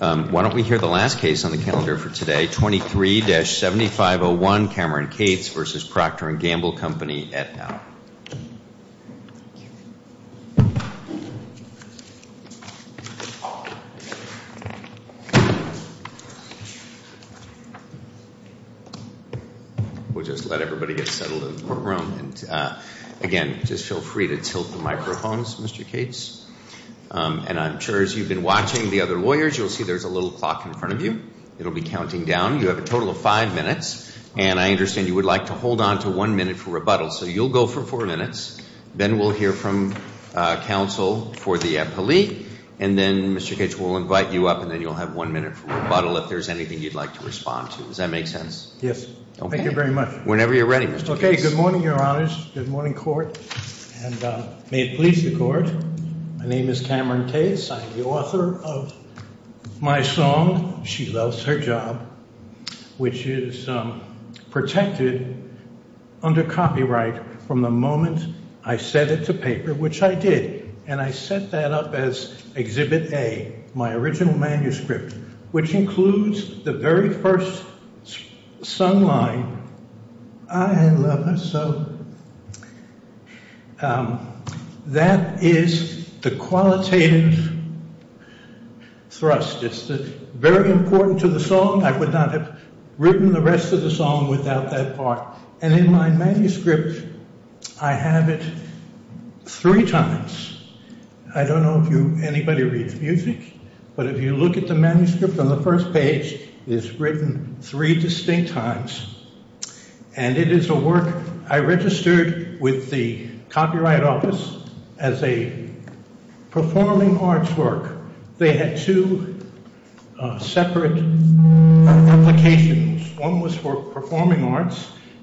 Why don't we hear the last case on the calendar for today, 23-7501 Cameron Cates v. Proctor & Gamble Company, et al. We'll just let everybody get settled in the courtroom. Again, just feel free to tilt the microphones, Mr. Cates. And I'm sure as you've been watching the other lawyers, you'll see there's a little clock in front of you. It'll be counting down. You have a total of five minutes, and I understand you would like to hold on to one minute for rebuttal. So you'll go for four minutes. Then we'll hear from counsel for the appellee. And then, Mr. Cates, we'll invite you up, and then you'll have one minute for rebuttal if there's anything you'd like to respond to. Does that make sense? Yes. Okay. Thank you very much. Whenever you're ready, Mr. Cates. Okay, good morning, Your Honors. Good morning, Court. And may it please the Court, my name is Cameron Cates. I'm the author of my song, She Loves Her Job, which is protected under copyright from the moment I set it to paper, which I did. And I set that up as Exhibit A, my original manuscript, which includes the very first sung line, I love her so. That is the qualitative thrust. It's very important to the song. I would not have written the rest of the song without that part. And in my manuscript, I have it three times. I don't know if anybody reads music, but if you look at the manuscript on the first page, it's written three distinct times, and it is a work I registered with the Copyright Office as a performing arts work. They had two separate applications. One was for performing arts.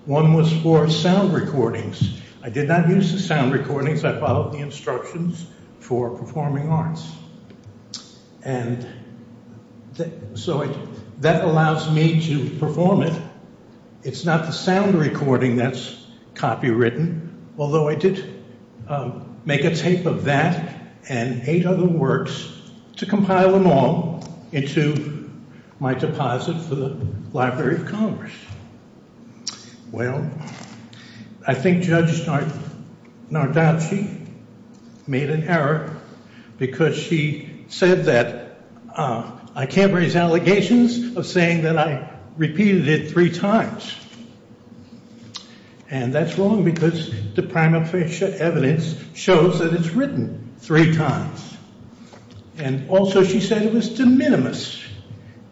One was for sound recordings. I did not use the sound recordings. I followed the instructions for performing arts. And so that allows me to perform it. It's not the sound recording that's copywritten, although I did make a tape of that and eight other works to compile them all into my deposit for the Library of Congress. Well, I think Judge Nardacci made an error because she said that I can't raise allegations of saying that I repeated it three times. And that's wrong because the prima facie evidence shows that it's written three times. And also she said it was de minimis.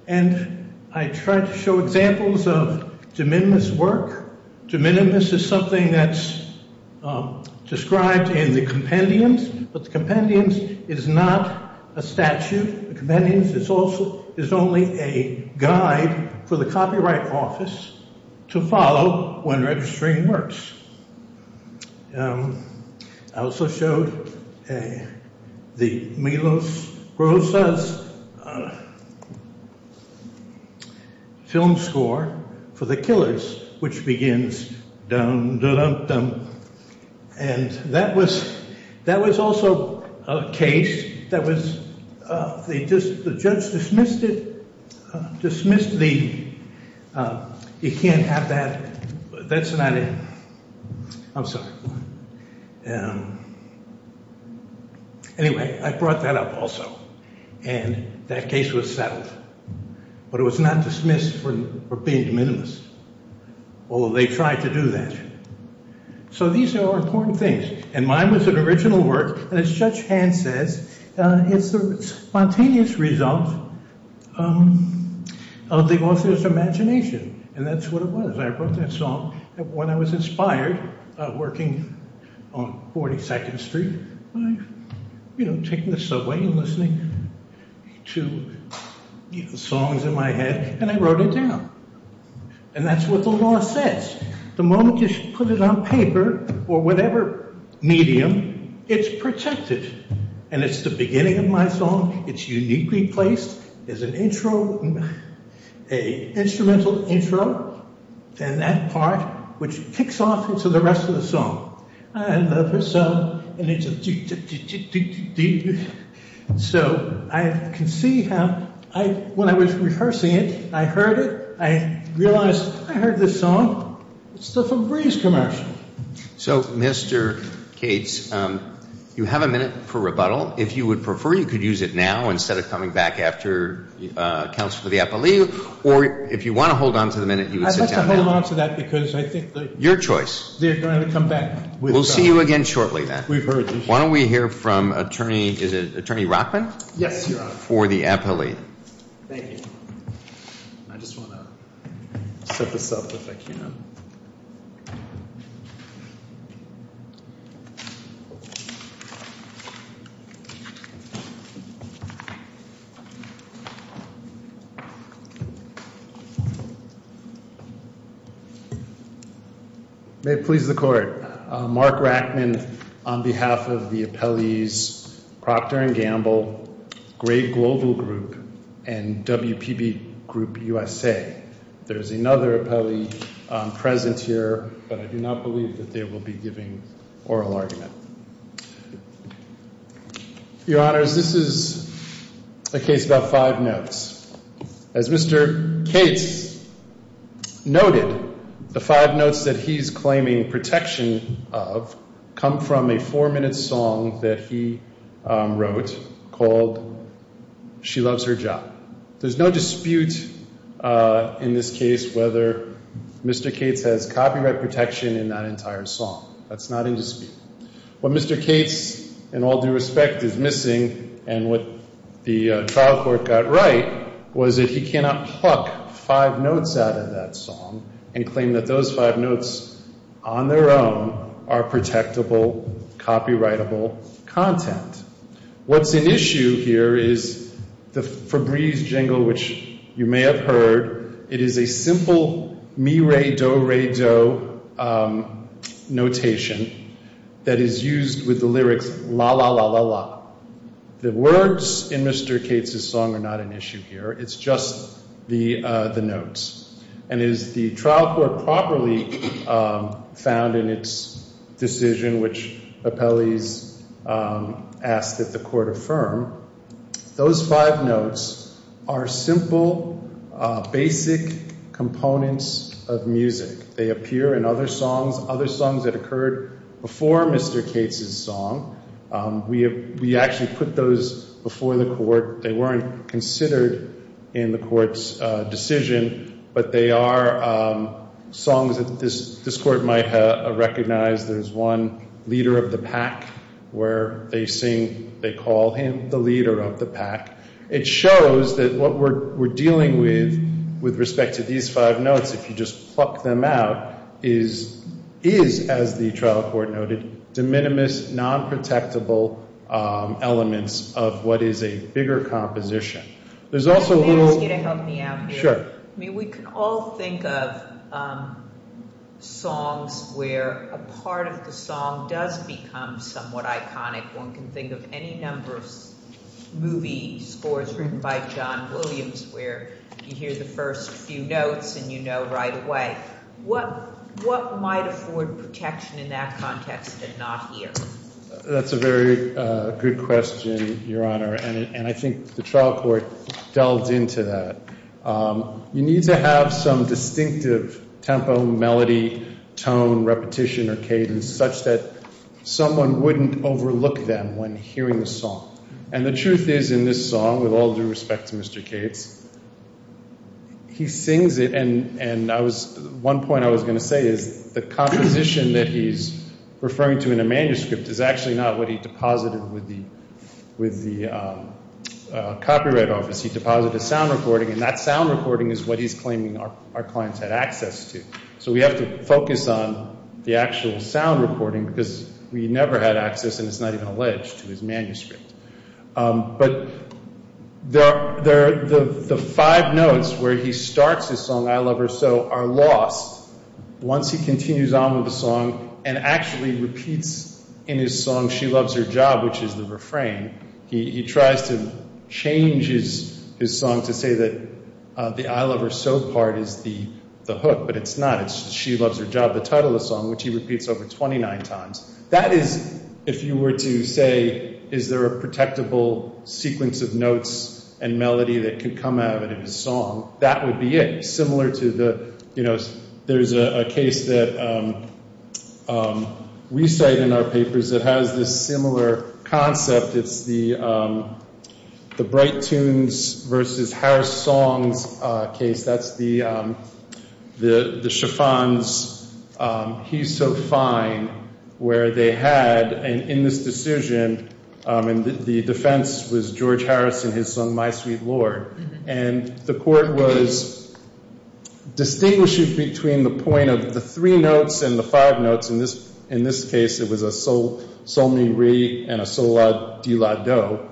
And I tried to show examples of de minimis work. De minimis is something that's described in the Compendiums, but the Compendiums is not a statute. The Compendiums is only a guide for the Copyright Office to follow when registering works. I also showed the Milos Rosas film score for The Killers, which begins dum-da-dum-dum. And that was also a case that was just the judge dismissed it, dismissed the you can't have that. That's not it. I'm sorry. Anyway, I brought that up also. And that case was settled. But it was not dismissed for being de minimis, although they tried to do that. So these are all important things. And mine was an original work. And as Judge Hand says, it's the spontaneous result of the author's imagination. And that's what it was. I wrote that song when I was inspired working on 42nd Street, you know, taking the subway and listening to songs in my head. And I wrote it down. And that's what the law says. The moment you put it on paper or whatever medium, it's protected. And it's the beginning of my song. It's uniquely placed as an intro, an instrumental intro. And that part, which kicks off into the rest of the song. I love this song. And it's a do-do-do-do-do-do. So I can see how when I was rehearsing it, I heard it. I realized I heard this song. It's the Febreze commercial. So, Mr. Cates, you have a minute for rebuttal. If you would prefer, you could use it now instead of coming back after counsel for the appellee. Or if you want to hold on to the minute, you would sit down now. I'd like to hold on to that because I think they're going to come back. We'll see you again shortly then. We've heard this. Why don't we hear from Attorney Rockman? Yes, Your Honor. For the appellee. Thank you. I just want to set this up if I can. May it please the court. Mark Rockman on behalf of the appellees Procter & Gamble, Great Global Group, and WPB Group USA. There's another appellee present here, but I do not believe that they will be giving oral argument. Your Honors, this is a case about five notes. As Mr. Cates noted, the five notes that he's claiming protection of come from a four-minute song that he wrote called She Loves Her Job. There's no dispute in this case whether Mr. Cates has copyright protection in that entire song. That's not in dispute. What Mr. Cates, in all due respect, is missing and what the trial court got right was that he cannot pluck five notes out of that song and claim that those five notes on their own are protectable, copyrightable content. What's an issue here is the Febreze jingle, which you may have heard. It is a simple mi-re-do-re-do notation that is used with the lyrics la-la-la-la-la. The words in Mr. Cates' song are not an issue here. It's just the notes. And as the trial court properly found in its decision, which appellees asked that the court affirm, those five notes are simple, basic components of music. They appear in other songs, other songs that occurred before Mr. Cates' song. We actually put those before the court. They weren't considered in the court's decision, but they are songs that this court might have recognized. There's one, Leader of the Pack, where they sing, they call him the leader of the pack. It shows that what we're dealing with, with respect to these five notes, if you just pluck them out, is, as the trial court noted, de minimis, non-protectable elements of what is a bigger composition. There's also a little... Can I ask you to help me out here? Sure. I mean, we can all think of songs where a part of the song does become somewhat iconic. One can think of any number of movie scores written by John Williams where you hear the first few notes and you know right away. What might afford protection in that context and not here? That's a very good question, Your Honor, and I think the trial court delved into that. You need to have some distinctive tempo, melody, tone, repetition, or cadence, such that someone wouldn't overlook them when hearing the song. And the truth is, in this song, with all due respect to Mr. Cates, he sings it, and one point I was going to say is the composition that he's referring to in a manuscript is actually not what he deposited with the copyright office. He deposited a sound recording, and that sound recording is what he's claiming our clients had access to. So we have to focus on the actual sound recording because we never had access, and it's not even alleged, to his manuscript. But the five notes where he starts his song, I Love Her So, are lost once he continues on with the song and actually repeats in his song, She Loves Her Job, which is the refrain. He tries to change his song to say that the I Love Her So part is the hook, but it's not. It's She Loves Her Job, the title of the song, which he repeats over 29 times. That is, if you were to say, is there a protectable sequence of notes and melody that could come out of his song, that would be it, similar to the, you know, there's a case that we cite in our papers that has this similar concept. It's the Bright Tunes versus Harris Songs case. That's the Chiffon's He's So Fine where they had, in this decision, and the defense was George Harris and his song, My Sweet Lord, and the court was distinguishing between the point of the three notes and the five notes. In this case, it was a Sol Mi Re and a Sol La Di La Do.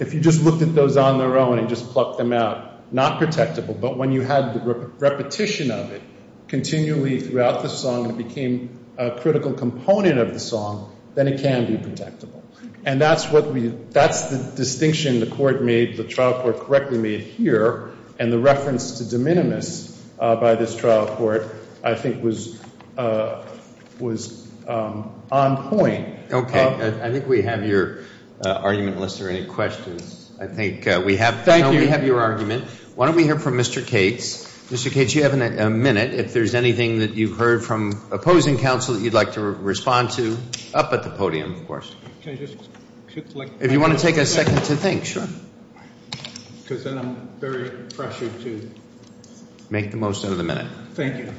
If you just looked at those on their own and just plucked them out, not protectable, but when you had the repetition of it continually throughout the song, it became a critical component of the song, then it can be protectable. And that's the distinction the court made, the trial court correctly made here, and the reference to de minimis by this trial court, I think, was on point. Okay. I think we have your argument, unless there are any questions. I think we have your argument. Why don't we hear from Mr. Cates. Mr. Cates, you have a minute. If there's anything that you've heard from opposing counsel that you'd like to respond to, up at the podium, of course. If you want to take a second to think, sure. Because then I'm very pressured to make the most out of the minute. Thank you.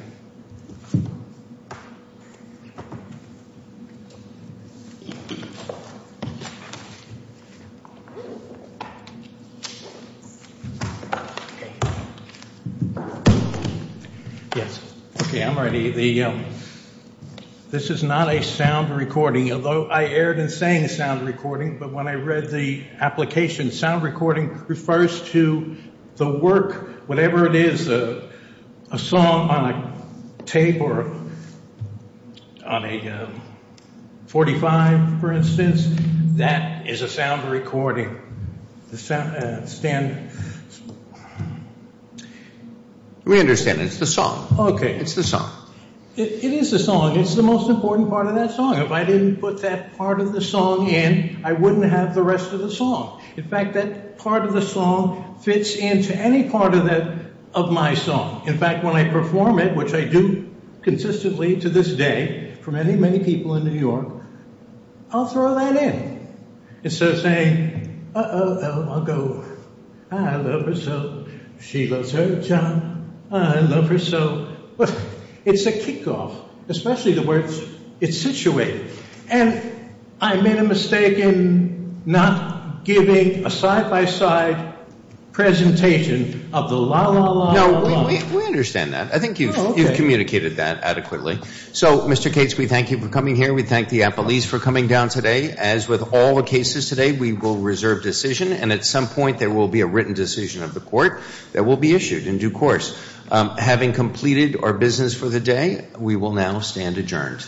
Yes. Okay, I'm ready. This is not a sound recording. Although I aired and sang a sound recording, but when I read the application, sound recording refers to the work, whatever it is, a song on a tape or on a 45, for instance. That is a sound recording. We understand. It's the song. It's the song. It is the song. It's the most important part of that song. If I didn't put that part of the song in, I wouldn't have the rest of the song. In fact, that part of the song fits into any part of my song. In fact, when I perform it, which I do consistently to this day for many, many people in New York, I'll throw that in. Instead of saying, uh-oh, I'll go, I love her so. She loves her job. I love her so. It's a kickoff, especially the words, it's situated. And I made a mistake in not giving a side-by-side presentation of the la-la-la-la. No, we understand that. I think you've communicated that adequately. So, Mr. Cates, we thank you for coming here. We thank the appellees for coming down today. As with all the cases today, we will reserve decision, and at some point there will be a written decision of the court that will be issued in due course. Having completed our business for the day, we will now stand adjourned.